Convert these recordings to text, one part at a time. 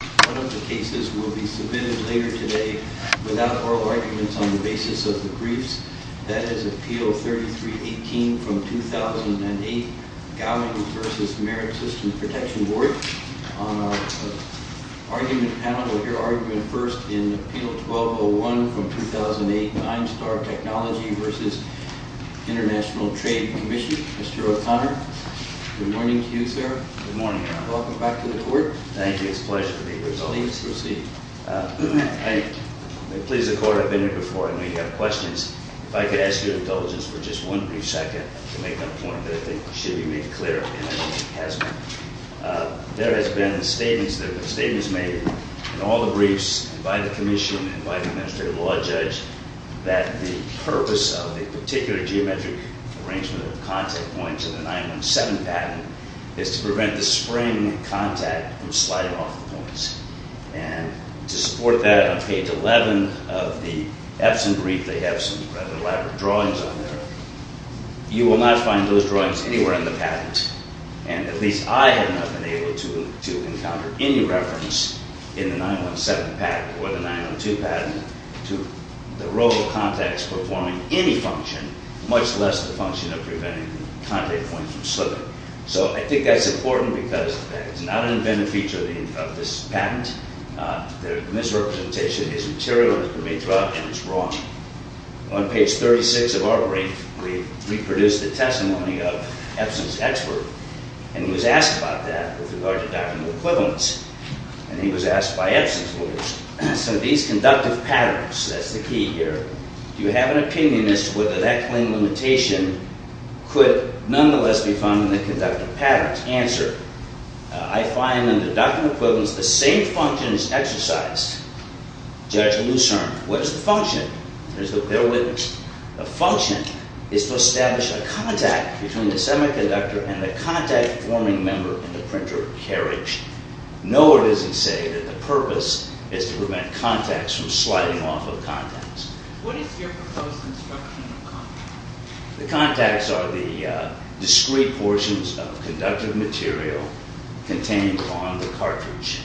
One of the cases will be submitted later today without oral arguments on the basis of the briefs. That is Appeal 3318 from 2008, Gowing v. Merit System Protection Board. On our argument panel, we'll hear argument first in Appeal 1201 from 2008, Ninestar Technology v. International Trade Commission. Mr. O'Connor, good morning to you, sir. Good morning. Welcome back to the court. Thank you. It's a pleasure to be with you. Please proceed. I'm pleased to report I've been here before, and we have questions. If I could ask your indulgence for just one brief second to make a point that I think should be made clear, and I think it has been. There has been statements made in all the briefs by the Commission and by the Administrative Law Judge that the purpose of a particular geometric arrangement of contact points in the 917 patent is to prevent the spring contact from sliding off the points. And to support that, on page 11 of the Epson brief, they have some rather elaborate drawings on there. You will not find those drawings anywhere in the patent, and at least I have not been able to encounter any reference in the 917 patent or the 902 patent to the role of contacts performing any function, much less the function of preventing contact points from slipping. So I think that's important because it's not an invented feature of this patent. The misrepresentation is material that has been made throughout, and it's wrong. On page 36 of our brief, we've reproduced the testimony of Epson's expert, and he was asked about that with regard to doctrinal equivalence. And he was asked by Epson's lawyers. So these conductive patterns, that's the key here. Do you have an opinion as to whether that claim limitation could nonetheless be found in the conductive patterns? Answer, I find in the doctrinal equivalence, the same function is exercised. Judge Lucerne, what is the function? There's their witness. The function is to establish a contact between the semiconductor and the contact-forming member in the printer carriage. Nowhere does it say that the purpose is to prevent contacts from sliding off of contacts. What is your proposed construction of contacts? The contacts are the discrete portions of conductive material contained on the cartridge,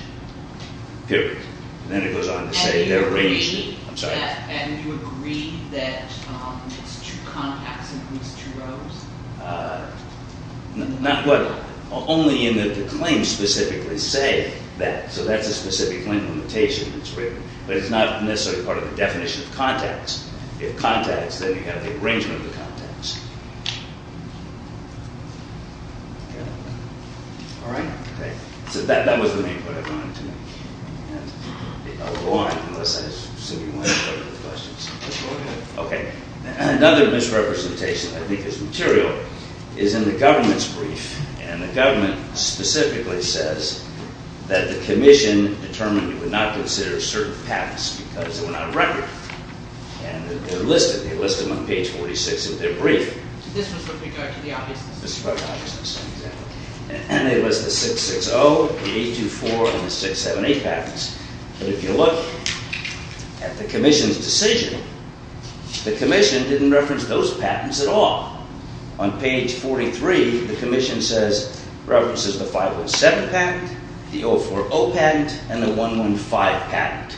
period. And then it goes on to say they're arranged in, I'm sorry. And you agree that it's two contacts in these two rows? Not what, only in the claim specifically say that. So that's a specific claim limitation that's written. But it's not necessarily part of the definition of contacts. If contacts, then you have the arrangement of the contacts. All right? So that was the main point I wanted to make. I'll go on, unless I assume you want to go to the questions. Okay. Another misrepresentation, I think, of this material is in the government's brief. And the government specifically says that the commission determined it would not consider certain patents because they were not a record. And they're listed. They list them on page 46 of their brief. And they list the 660, the 824, and the 678 patents. But if you look at the commission's decision, the commission didn't reference those patents at all. On page 43, the commission says, references the 507 patent, the 040 patent, and the 115 patent.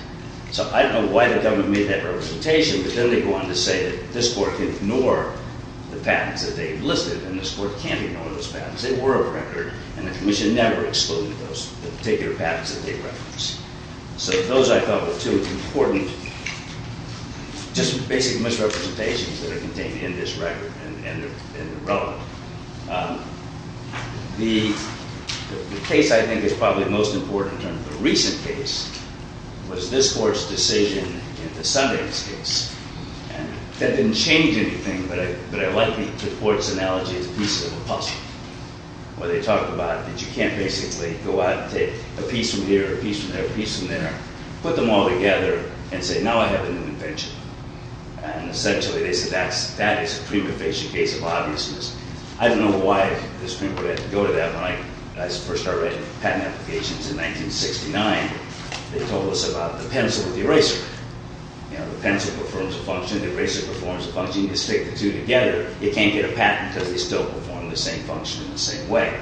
So I don't know why the government made that representation. But then they go on to say that this court can ignore the patents that they've listed. And this court can't ignore those patents. They were a record. And the commission never excluded those particular patents that they referenced. So those, I thought, were two important just basic misrepresentations that are contained in this record and are relevant. The case I think is probably most important in terms of the recent case was this court's decision in the Sundance case. And that didn't change anything. But I like the court's analogy. It's a piece of a puzzle. Where they talk about that you can't basically go out and take a piece from here, a piece from there, a piece from there, put them all together, and say, now I have an invention. And essentially they say that is a prima facie case of obviousness. I don't know why this court would have to go to that. When I first started writing patent applications in 1969, they told us about the pencil and the eraser. You know, the pencil performs a function, the eraser performs a function. When you stick the two together, you can't get a patent because they still perform the same function in the same way.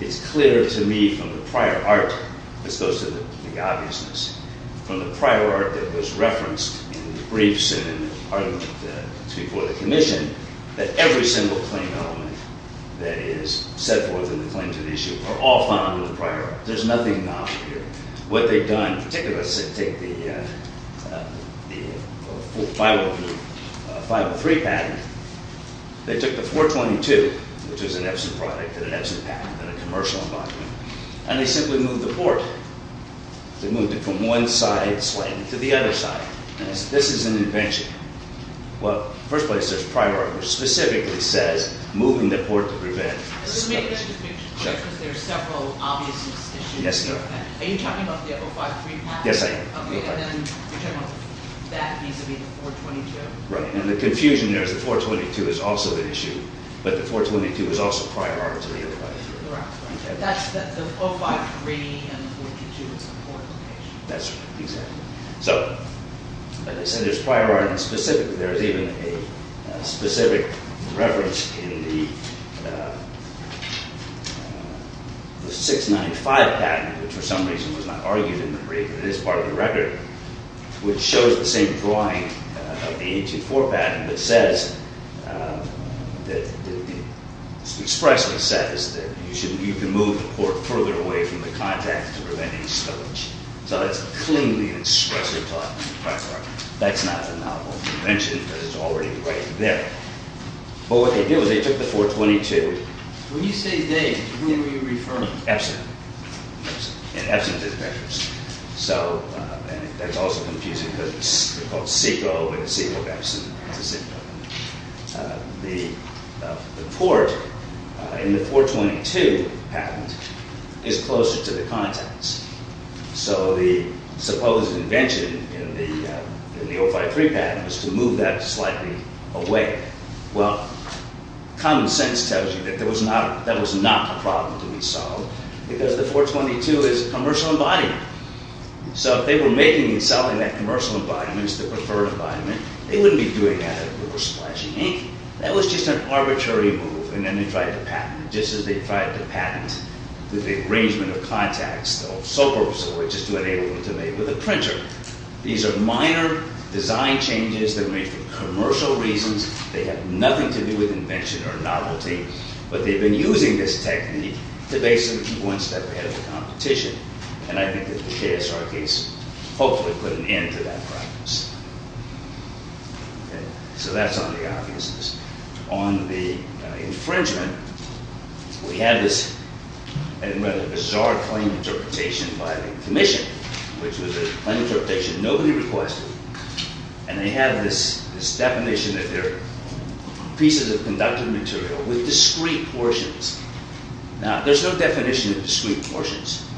It's clear to me from the prior art, this goes to the obviousness, from the prior art that was referenced in the briefs and in the argument before the commission, that every single claim element that is set forth in the claim to the issue are all found in the prior art. There's nothing not here. What they've done, particularly to take the 503 patent, they took the 422, which was an Epson product and an Epson patent and a commercial environment, and they simply moved the port. They moved it from one side slanted to the other side. This is an invention. Well, in the first place, there's a prior art which specifically says moving the port to prevent. There are several obviousness issues. Are you talking about the 053 patent? Yes, I am. And then you're talking about that vis-a-vis the 422. Right, and the confusion there is the 422 is also an issue, but the 422 is also prior art to the 053. Right, right. That's the 053 and the 422 is an important issue. That's right, exactly. So, like I said, there's prior art, and specifically there is even a specific reference in the 695 patent, which for some reason was not argued in the brief, but it is part of the record, which shows the same drawing of the 184 patent, but says that it expressly says that you can move the port further away from the contact to prevent any stowage. So that's cleanly and expressly taught in the prior art. That's not a novel invention, but it's already right there. But what they did was they took the 422. When you say they, who are you referring to? Epson. Epson. And Epson's is backwards. So, and that's also confusing because they're called SECO, but the SECO of Epson is a SECO. The port in the 422 patent is closer to the contacts. So the supposed invention in the 053 patent was to move that slightly away. Well, common sense tells you that that was not a problem to be solved because the 422 is a commercial embodiment. So if they were making and selling that commercial embodiment, the preferred embodiment, they wouldn't be doing that if they were splashing ink. That was just an arbitrary move, and then they tried to patent it, just as they tried to patent the arrangement of contacts, though so purposely, which is to enable them to make with a printer. These are minor design changes that are made for commercial reasons. They have nothing to do with invention or novelty, but they've been using this technique to basically keep one step ahead of the competition, and I think that the JSR case hopefully put an end to that practice. So that's on the obviousness. On the infringement, we have this rather bizarre claim interpretation by the commission, which was a claim interpretation nobody requested, and they have this definition that they're pieces of conductive material with discrete portions. Now, there's no definition of discrete portions,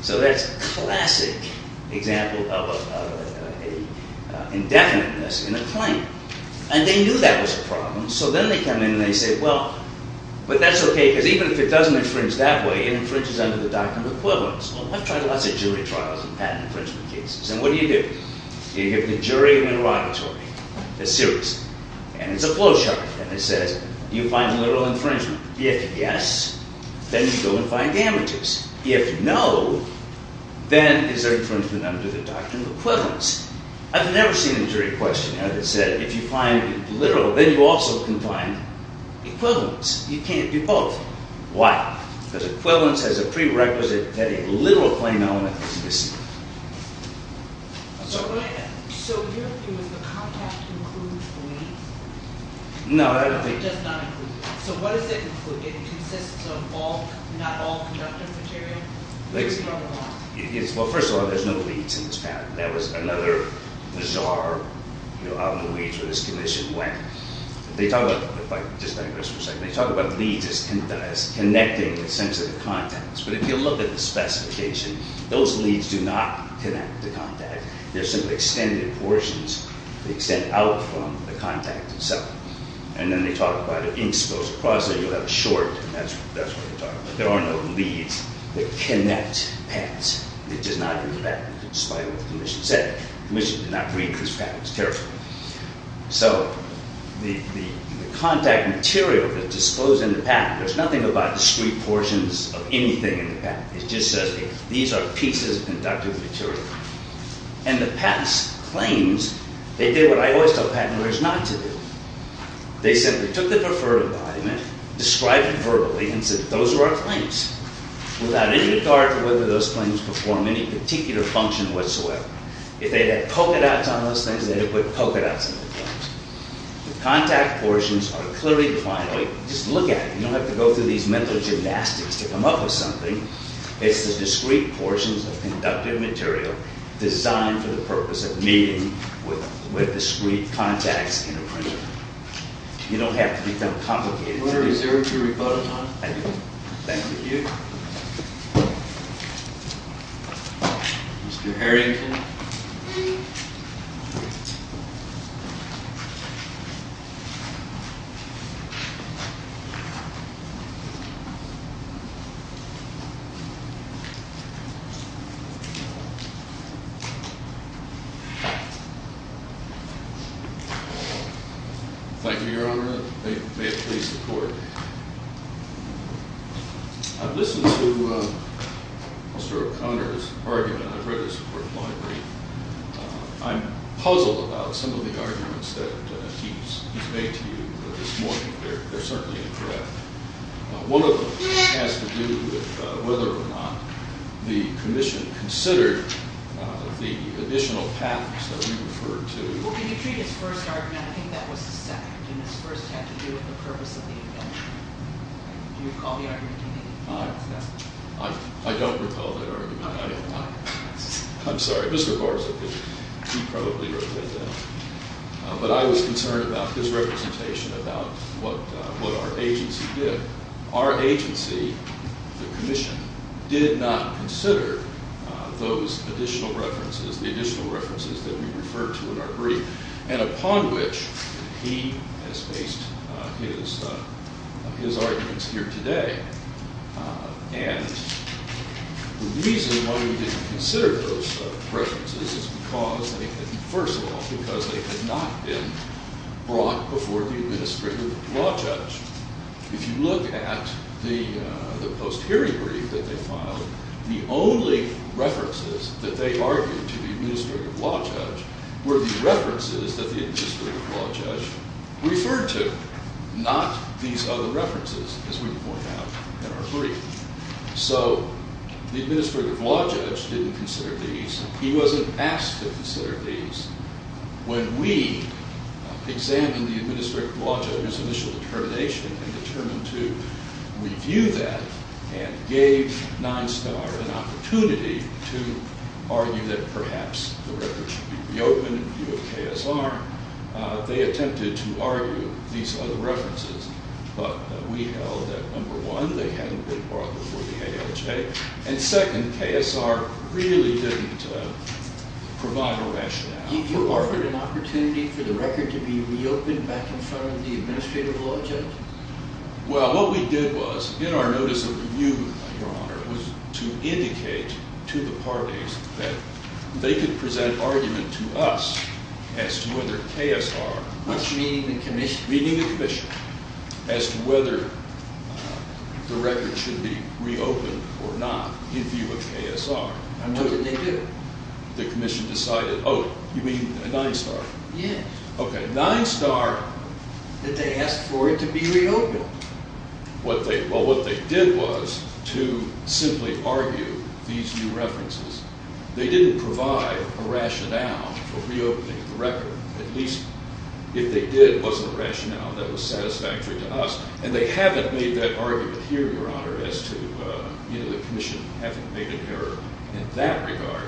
so that's a classic example of an indefiniteness in a claim, and they knew that was a problem, so then they come in and they say, well, but that's okay, because even if it doesn't infringe that way, it infringes under the doctrine of equivalence. Well, I've tried lots of jury trials and patent infringement cases, and what do you do? You give the jury an interrogatory, a series, and it's a flowchart, and it says, do you find literal infringement? If yes, then you go and find damages. If no, then is there infringement under the doctrine of equivalence? I've never seen a jury question that said if you find literal, then you also can find equivalence. You can't do both. Why? Because equivalence has a prerequisite that a literal claim element is missing. So here, it was the contact includes the leads? No, that would be... It does not include. So what does it include? It consists of not all conductive material? Well, first of all, there's no leads in this pattern. That was another bizarre, you know, out in the weeds where this commission went. They talk about, if I just digress for a second, they talk about leads as connecting sensitive contacts, but if you look at the specification, those leads do not connect the contact. They're simply extended portions. They extend out from the contact itself, and then they talk about an inch goes across it, you'll have a short, and that's what they're talking about. There are no leads that connect patents. It does not include that, despite what the commission said. The commission did not read this pattern as carefully. So the contact material that's disclosed in the patent, there's nothing about discrete portions of anything in the patent. It just says these are pieces of conductive material. And the patent's claims, they did what I always tell patent lawyers not to do. They simply took the preferred embodiment, described it verbally, and said those are our claims, without any regard to whether those claims perform any particular function whatsoever. If they had polka dots on those things, they would put polka dots on the claims. The contact portions are clearly defined. Just look at it. You don't have to go through these mental gymnastics to come up with something. It's the discrete portions of conductive material designed for the purpose of meeting with discrete contacts in a printer. You don't have to become complicated. Is there a rebuttal time? I do. Thank you. Mr. Harrington. Thank you. Thank you, Your Honor. I've listened to Mr. O'Connor's argument. I've read his court law brief. I'm puzzled about some of the arguments that he's made to you this morning. They're certainly incorrect. One of them has to do with whether or not the commission considered the additional paths that we referred to. Well, when you treat his first argument, I think that was the second. And his first had to do with the purpose of the event. Do you recall the argument he made? No. I don't recall that argument. I don't know. I'm sorry. Mr. Barza, he probably wrote that down. But I was concerned about his representation about what our agency did. Our agency, the commission, did not consider those additional references, the additional references that we referred to in our brief, and upon which he has based his arguments here today. And the reason why we didn't consider those references is because they had, first of all, because they had not been brought before the administrative law judge. If you look at the post-hearing brief that they filed, the only references that they argued to the administrative law judge were the references that the administrative law judge referred to, not these other references, as we point out in our brief. So the administrative law judge didn't consider these. He wasn't asked to consider these. When we examined the administrative law judge's initial determination and determined to review that and gave 9STAR an opportunity to argue that perhaps the record should be reopened in view of KSR, they attempted to argue these other references, but we held that, number one, they hadn't been brought before the ALJ, and second, KSR really didn't provide a rationale for arguing. Did you offer an opportunity for the record to be reopened back in front of the administrative law judge? Well, what we did was, in our notice of review, Your Honor, was to indicate to the parties that they could present argument to us as to whether KSR... Was meeting the commission. Meeting the commission as to whether the record should be reopened or not in view of KSR. And what did they do? The commission decided, oh, you mean 9STAR? Yes. Okay, 9STAR... That they asked for it to be reopened. Well, what they did was to simply argue these new references. They didn't provide a rationale for reopening the record. At least, if they did, it wasn't a rationale that was satisfactory to us. And they haven't made that argument here, Your Honor, as to the commission having made an error in that regard.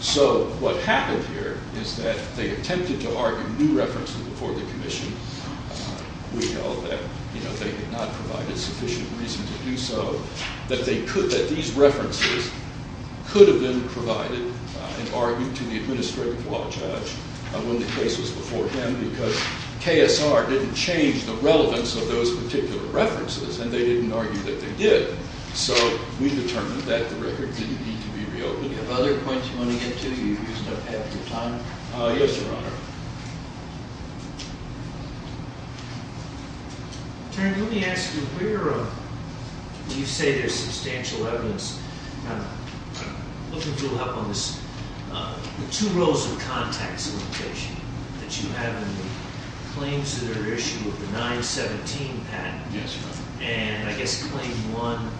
So what happened here is that they attempted to argue new references before the commission. We held that they had not provided sufficient reason to do so, that these references could have been provided and argued to the administrative law judge when the case was before him because KSR didn't change the relevance of those particular references, and they didn't argue that they did. So we determined that the record didn't need to be reopened. Do you have other points you want to get to? You've used up half your time. Yes, Your Honor. Attorney, let me ask you, where do you say there's substantial evidence? I'm looking for help on this. The two rows of contacts in the case sheet that you have and the claims that are issued with the 917 patent. Yes, Your Honor. And I guess claim one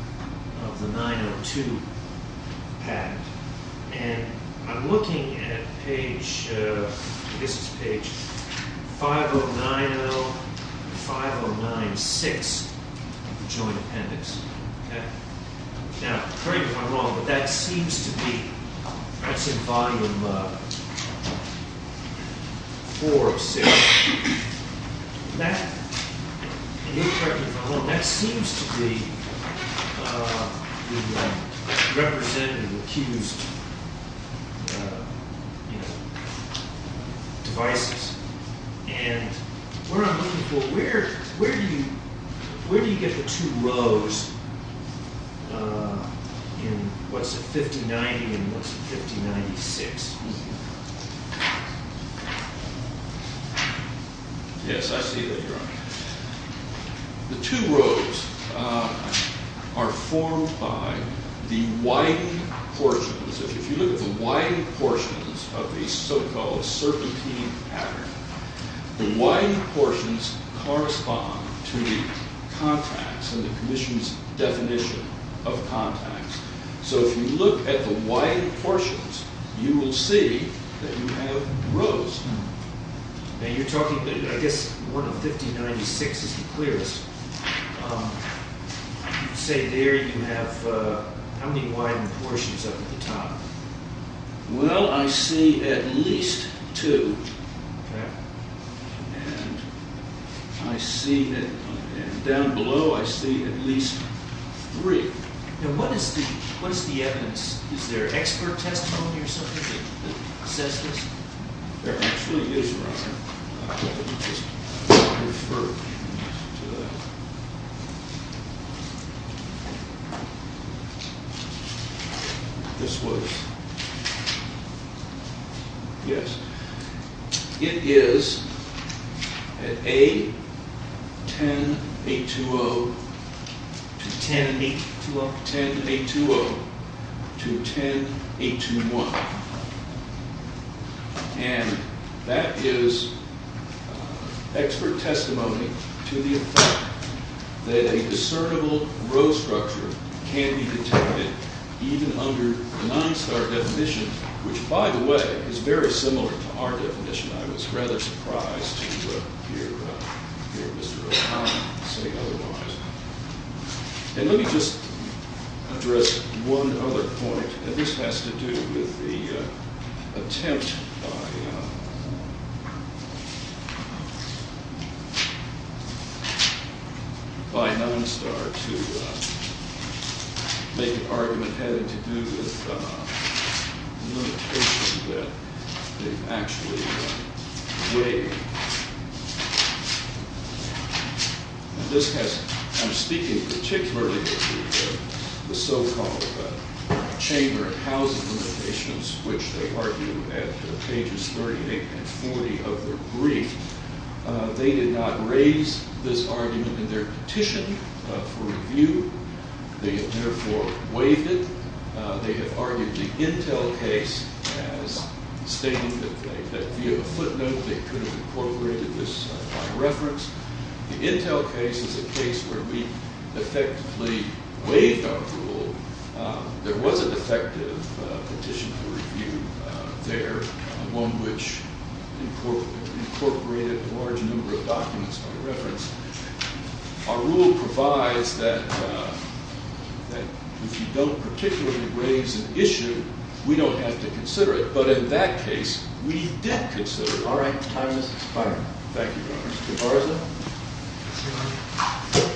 of the 902 patent. And I'm looking at page—I guess it's page 5090 and 5096 of the joint appendix. Okay? Now, correct me if I'm wrong, but that seems to be—that's in volume 406. That—and you'll correct me if I'm wrong—that seems to be the representative accused devices. And what I'm looking for, where do you get the two rows in what's the 5090 and what's the 5096? Yes, I see that, Your Honor. The two rows are formed by the widened portions. If you look at the widened portions of the so-called serpentine pattern, the widened portions correspond to the contacts and the commission's definition of contacts. So if you look at the widened portions, you will see that you have rows. Now, you're talking—I guess one of 5096 is the clearest. Say there you have—how many widened portions up at the top? Well, I see at least two. Okay. And I see that—down below, I see at least three. Now, what is the evidence? Is there expert testimony or something that says this? There actually is one. I'll just refer you to that. This was—yes. It is at A10820 to 10820 to 10821. And that is expert testimony to the effect that a discernible row structure can be detected even under the nine-star definition, which, by the way, is very similar to our definition. I was rather surprised to hear Mr. O'Connor say otherwise. And let me just address one other point, and this has to do with the attempt by Nine Star to make an argument having to do with the limitation that they've actually weighed. This has—I'm speaking particularly of the so-called chamber of housing limitations, which they argue at pages 38 and 40 of their brief. They did not raise this argument in their petition for review. They have therefore weighed it. They have argued the Intel case as stating that via the footnote they could have incorporated this by reference. The Intel case is a case where we effectively weighed our rule. There was an effective petition for review there, one which incorporated a large number of documents by reference. Our rule provides that if you don't particularly raise an issue, we don't have to consider it. But in that case, we did consider it. All right, time is expiring. Thank you very much. Thank you.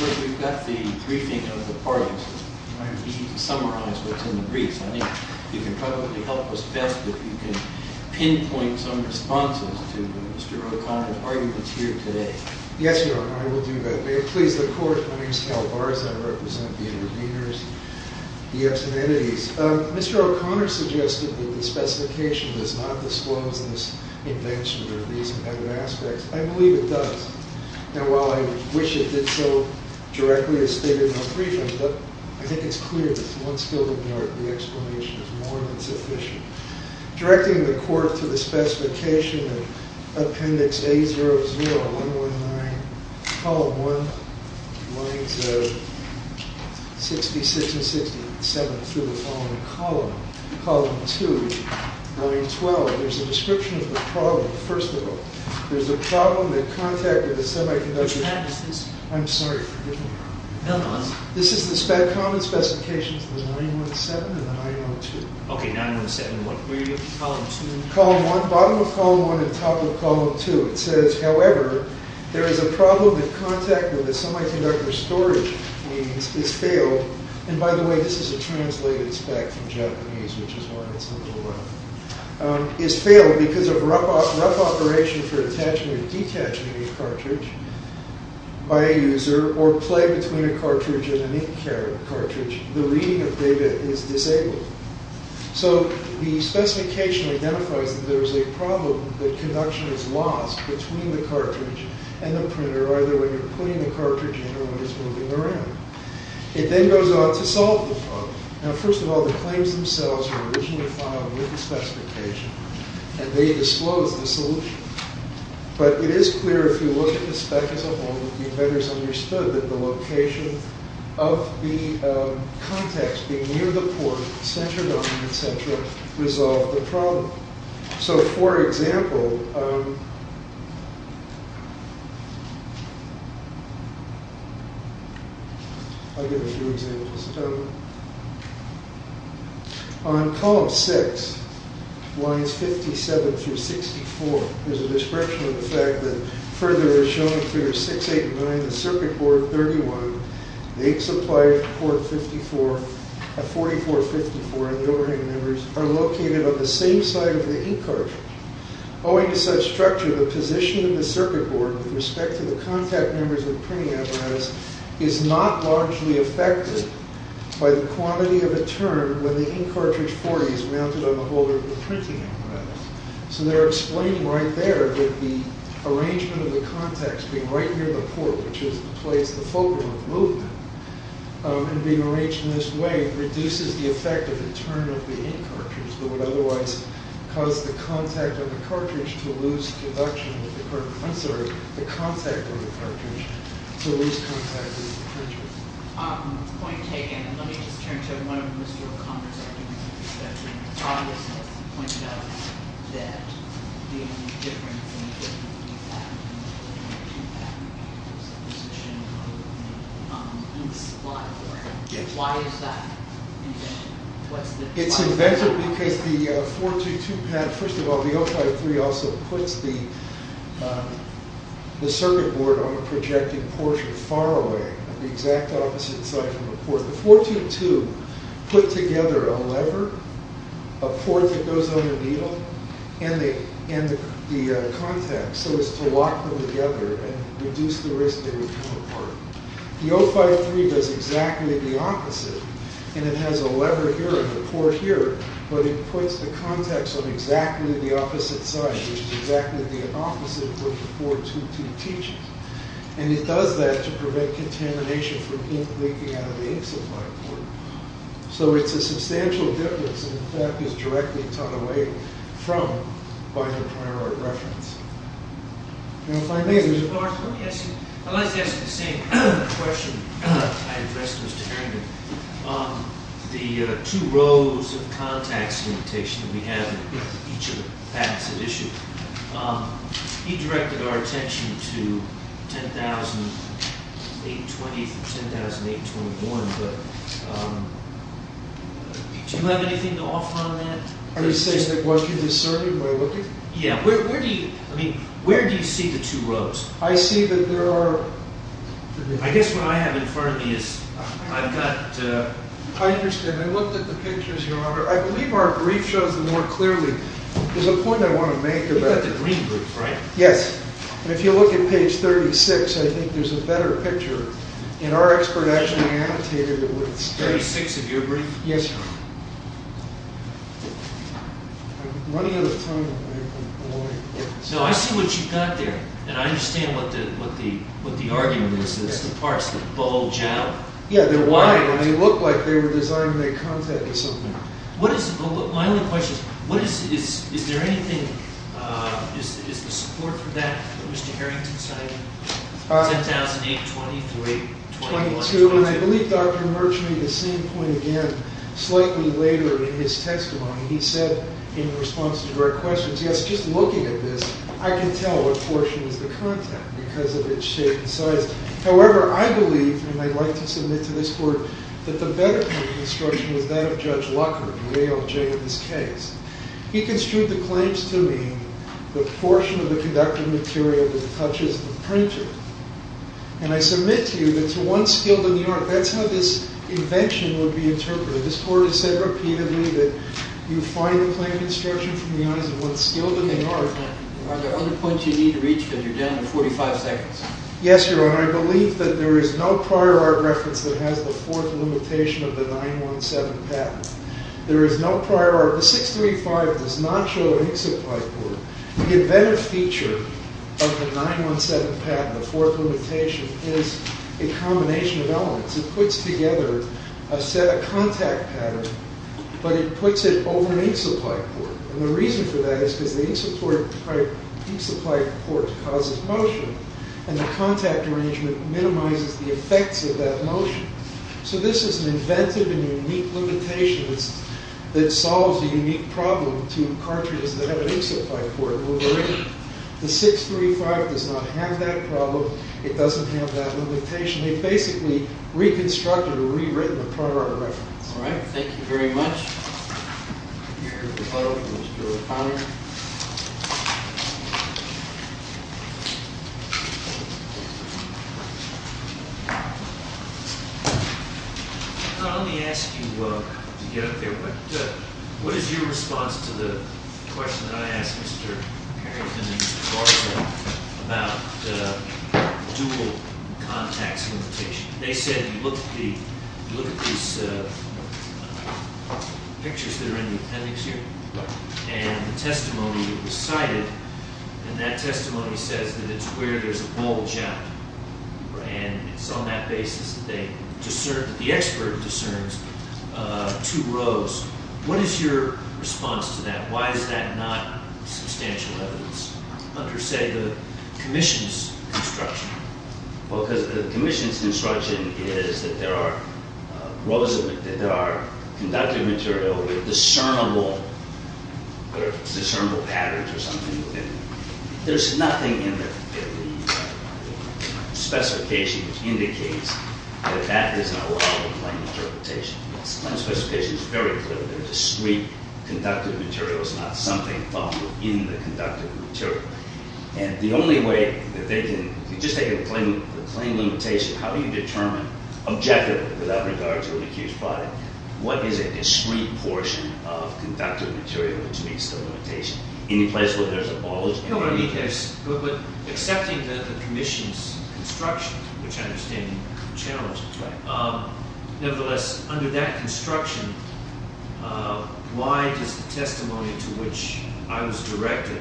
Of course, we've got the briefing of the parties. We need to summarize what's in the briefs. I think you can probably help us best if you can pinpoint some responses to Mr. O'Connor's arguments here today. Yes, Your Honor, I will do that. May it please the Court, my name is Cal Barzan. I represent the interveners, the absent entities. Mr. O'Connor suggested that the specification does not disclose this invention or these embedded aspects. I believe it does. And while I wish it did so directly as stated in the briefing, I think it's clear that once filled in the art, the explanation is more than sufficient. Directing the Court to the specification of Appendix A00-119, Column 1, Lines 66 and 67, through the following column, Column 2, Line 12, there's a description of the problem. First of all, there's a problem in contact with the semiconductor. Which line is this? I'm sorry. No, no. This is the spec, common specifications, the 917 and the 902. Okay, 917. What were you looking for in Column 2? Column 1, bottom of Column 1 and top of Column 2. It says, however, there is a problem in contact with the semiconductor storage. It's failed. And by the way, this is a translated spec from Japanese, which is why it's a little rough. It's failed because of rough operation for attaching or detaching a cartridge by a user or play between a cartridge and an ink cartridge. The reading of data is disabled. So the specification identifies that there is a problem that conduction is lost between the cartridge and the printer, either when you're putting the cartridge in or when it's moving around. It then goes on to solve the problem. Now, first of all, the claims themselves were originally filed with the specification, and they disclosed the solution. But it is clear, if you look at the spec as a whole, that the inventors understood that the location of the contacts being near the port, et cetera, et cetera, et cetera, resolved the problem. So, for example, I'll give a few examples. On column six, lines 57 through 64, there's a description of the fact that further as shown in figure 689, the circuit board 31, the ink supply port 54, 44, 54, and the overhang numbers are located on the same side of the ink cartridge. Owing to such structure, the position of the circuit board with respect to the contact numbers of the printing apparatus is not largely affected by the quantity of a turn when the ink cartridge 40 is mounted on the holder of the printing apparatus. So they're explaining right there that the arrangement of the contacts being right near the port, which is the place, the focal of movement, and being arranged in this way reduces the effect of the turn of the ink cartridge but would otherwise cause the contact of the cartridge to lose conduction, I'm sorry, the contact of the cartridge to lose contact with the cartridge. Point taken. Let me just turn to one of Mr. O'Connor's arguments. He said that it's obvious that the point of that being different from the difference of the fact that there's a position of the ink supply port. Why is that invented? It's invented because the 422 pad, first of all, the 053 also puts the circuit board on the projected portion far away, the exact opposite side from the port. The 422 put together a lever, a port that goes on the needle, and the contacts so as to lock them together and reduce the risk they would come apart. The 053 does exactly the opposite, and it has a lever here and a port here, but it puts the contacts on exactly the opposite side, which is exactly the opposite of what the 422 teaches. And it does that to prevent contamination from ink leaking out of the ink supply port. So it's a substantial difference, and in fact is directly taken away from by the prior reference. If I may, there's a question. I'd like to ask you the same question I addressed to Mr. Harrington. The two rows of contacts limitation that we have in each of the facts at issue, he directed our attention to 10,820 for 10,821, but do you have anything to offer on that? Are you saying that once you do the circuit, we're looking? Yeah. Where do you see the two rows? I see that there are... I guess what I have in front of me is I've got... I understand. I looked at the pictures, Your Honor. I believe our brief shows them more clearly. There's a point I want to make about... You've got the green brief, right? Yes. And if you look at page 36, I think there's a better picture, and our expert actually annotated it with... Page 36 of your brief? Yes, Your Honor. I'm running out of time. No, I see what you've got there, and I understand what the argument is. It's the parts that bulge out. Yeah, they're wide, and they look like they were designed to make contact with something. My only question is, is there anything... Is there support for that that Mr. Harrington cited? 10,820 through 821. I want to... And I believe Dr. Murch made the same point again slightly later in his testimony. He said in response to direct questions, yes, just looking at this, I can tell what portion is the contact because of its shape and size. However, I believe, and I'd like to submit to this Court, that the better point of construction was that of Judge Luckard, the ALJ of this case. He construed the claims to mean the portion of the conductive material that touches the printer. And I submit to you that to one skilled in the art, that's how this invention would be interpreted. This Court has said repeatedly that you find claim construction from the eyes of one skilled in the art. Are there other points you need to reach because you're down to 45 seconds? Yes, Your Honor. I believe that there is no prior art reference that has the fourth limitation of the 917 patent. There is no prior art... 635 does not show an in-supply port. The inventive feature of the 917 patent, the fourth limitation, is a combination of elements. It puts together a set of contact patterns, but it puts it over an in-supply port. And the reason for that is because the in-supply port causes motion, and the contact arrangement minimizes the effects of that motion. So this is an inventive and unique limitation that solves a unique problem to cartridges that have an in-supply port. The 635 does not have that problem. It doesn't have that limitation. They basically reconstructed or rewritten the prior art reference. All right. Thank you very much. Let me ask you to get up there. What is your response to the question that I asked Mr. Harrington and Mr. Garza about dual contacts limitation? They said, you look at these pictures that are in the appendix here and the testimony that was cited, and that testimony says that it's where there's a bulge out. And it's on that basis that the expert discerns two rows. What is your response to that? Why is that not substantial evidence under, say, the commission's construction? Well, because the commission's construction is that there are rows of it, that there are conductive material with discernible patterns or something within it. There's nothing in the specification which indicates that that is not a lawful claim interpretation. The claim specification is very clear. They're discrete conductive materials, not something in the conductive material. And the only way that they can—if you just take the claim limitation, how do you determine objectively, without regard to an accused product, what is a discrete portion of conductive material which meets the limitation? Any place where there's a bulge— But accepting the commission's construction, which I understand you challenged, nevertheless, under that construction, why does the testimony to which I was directed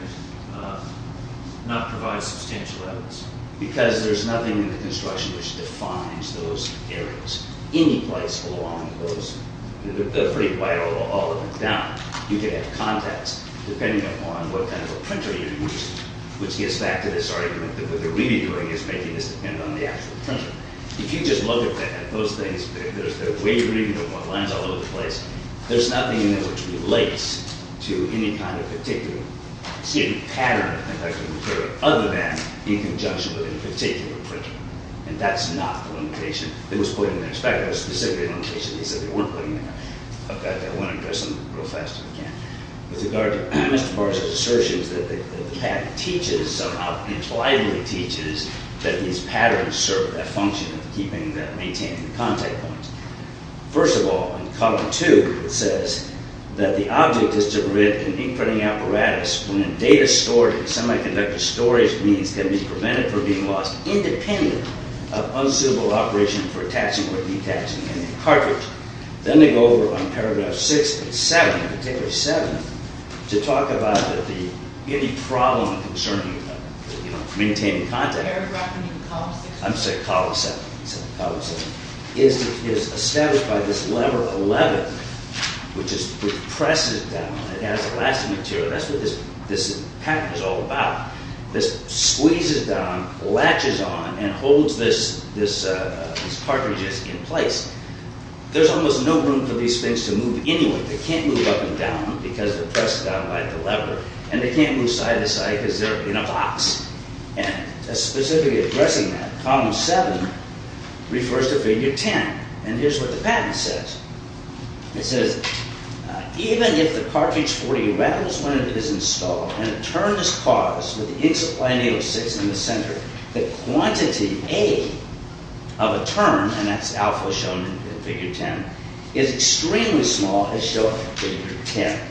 not provide substantial evidence? Because there's nothing in the construction which defines those areas. Any place along those—they're pretty wide all the way down. You can have context, depending upon what kind of a printer you're using, which gets back to this argument that what they're really doing is making this depend on the actual printer. If you just look at those things, there's the way you're reading them, the lines all over the place, there's nothing in there which relates to any kind of particular pattern of conductive material other than in conjunction with any particular printer. And that's not the limitation that was put in there. In fact, there was a specific limitation that they said they weren't putting in there. I want to address them real fast if I can. With regard to Mr. Barr's assertions that the patent teaches, somehow impliedly teaches, that these patterns serve that function of keeping and maintaining the contact points. First of all, in Column 2, it says that the object is to permit an ink-printing apparatus when data stored in semiconductor storage means can be prevented from being lost independent of unsuitable operation for attaching or detaching any cartridge. Then they go over on Paragraph 6 and 7, in particular 7, to talk about any problem concerning maintaining contact. Paragraph, you mean Column 6? I'm sorry, Column 7. Column 7. It is established by this Lever 11, which presses down, it has elastic material. That's what this patent is all about. This squeezes down, latches on, and holds these cartridges in place. There's almost no room for these things to move anywhere. They can't move up and down because they're pressed down by the lever. And they can't move side to side because they're in a box. And specifically addressing that, Column 7 refers to Figure 10. And here's what the patent says. It says, even if the cartridge 40 rattles when it is installed, and a turn is caused when the ink supply needle sits in the center, the quantity A of a turn, and that's alpha shown in Figure 10, is extremely small as shown in Figure 10.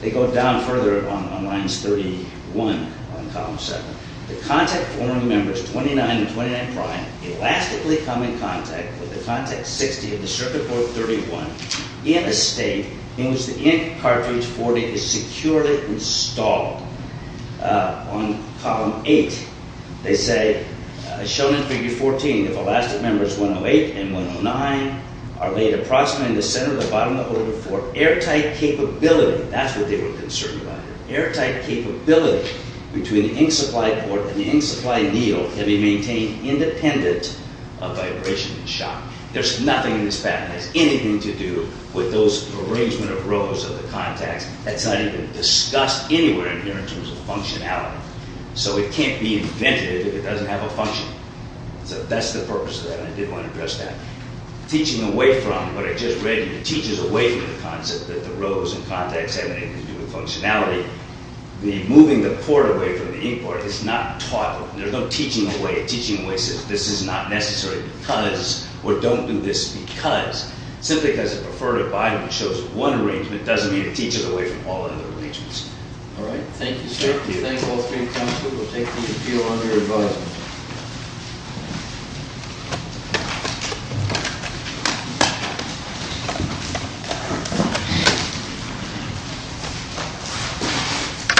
They go down further on lines 31 on Column 7. The contact forming members 29 and 29 prime elastically come in contact with the contact 60 of the circuit board 31 in a state in which the ink cartridge 40 is securely installed. On Column 8, they say, as shown in Figure 14, if elastic members 108 and 109 are laid approximately in the center of the bottom of the holder for airtight capability, that's what they were concerned about. Airtight capability between the ink supply board and the ink supply needle can be maintained independent of vibration and shock. There's nothing in this patent that has anything to do with those arrangement of rows of the contacts. That's not even discussed anywhere in here in terms of functionality. So it can't be invented if it doesn't have a function. So that's the purpose of that, and I did want to address that. Teaching away from what I just read. It teaches away from the concept that the rows and contacts have anything to do with functionality. The moving the port away from the ink port is not taught. There's no teaching away. Teaching away says this is not necessary because, or don't do this because. Simply because a preferred abiding shows one arrangement doesn't mean to teach it away from all other arrangements. All right. Thank you, sir. Thank you. Thank all three of you. We'll take the appeal under advisement.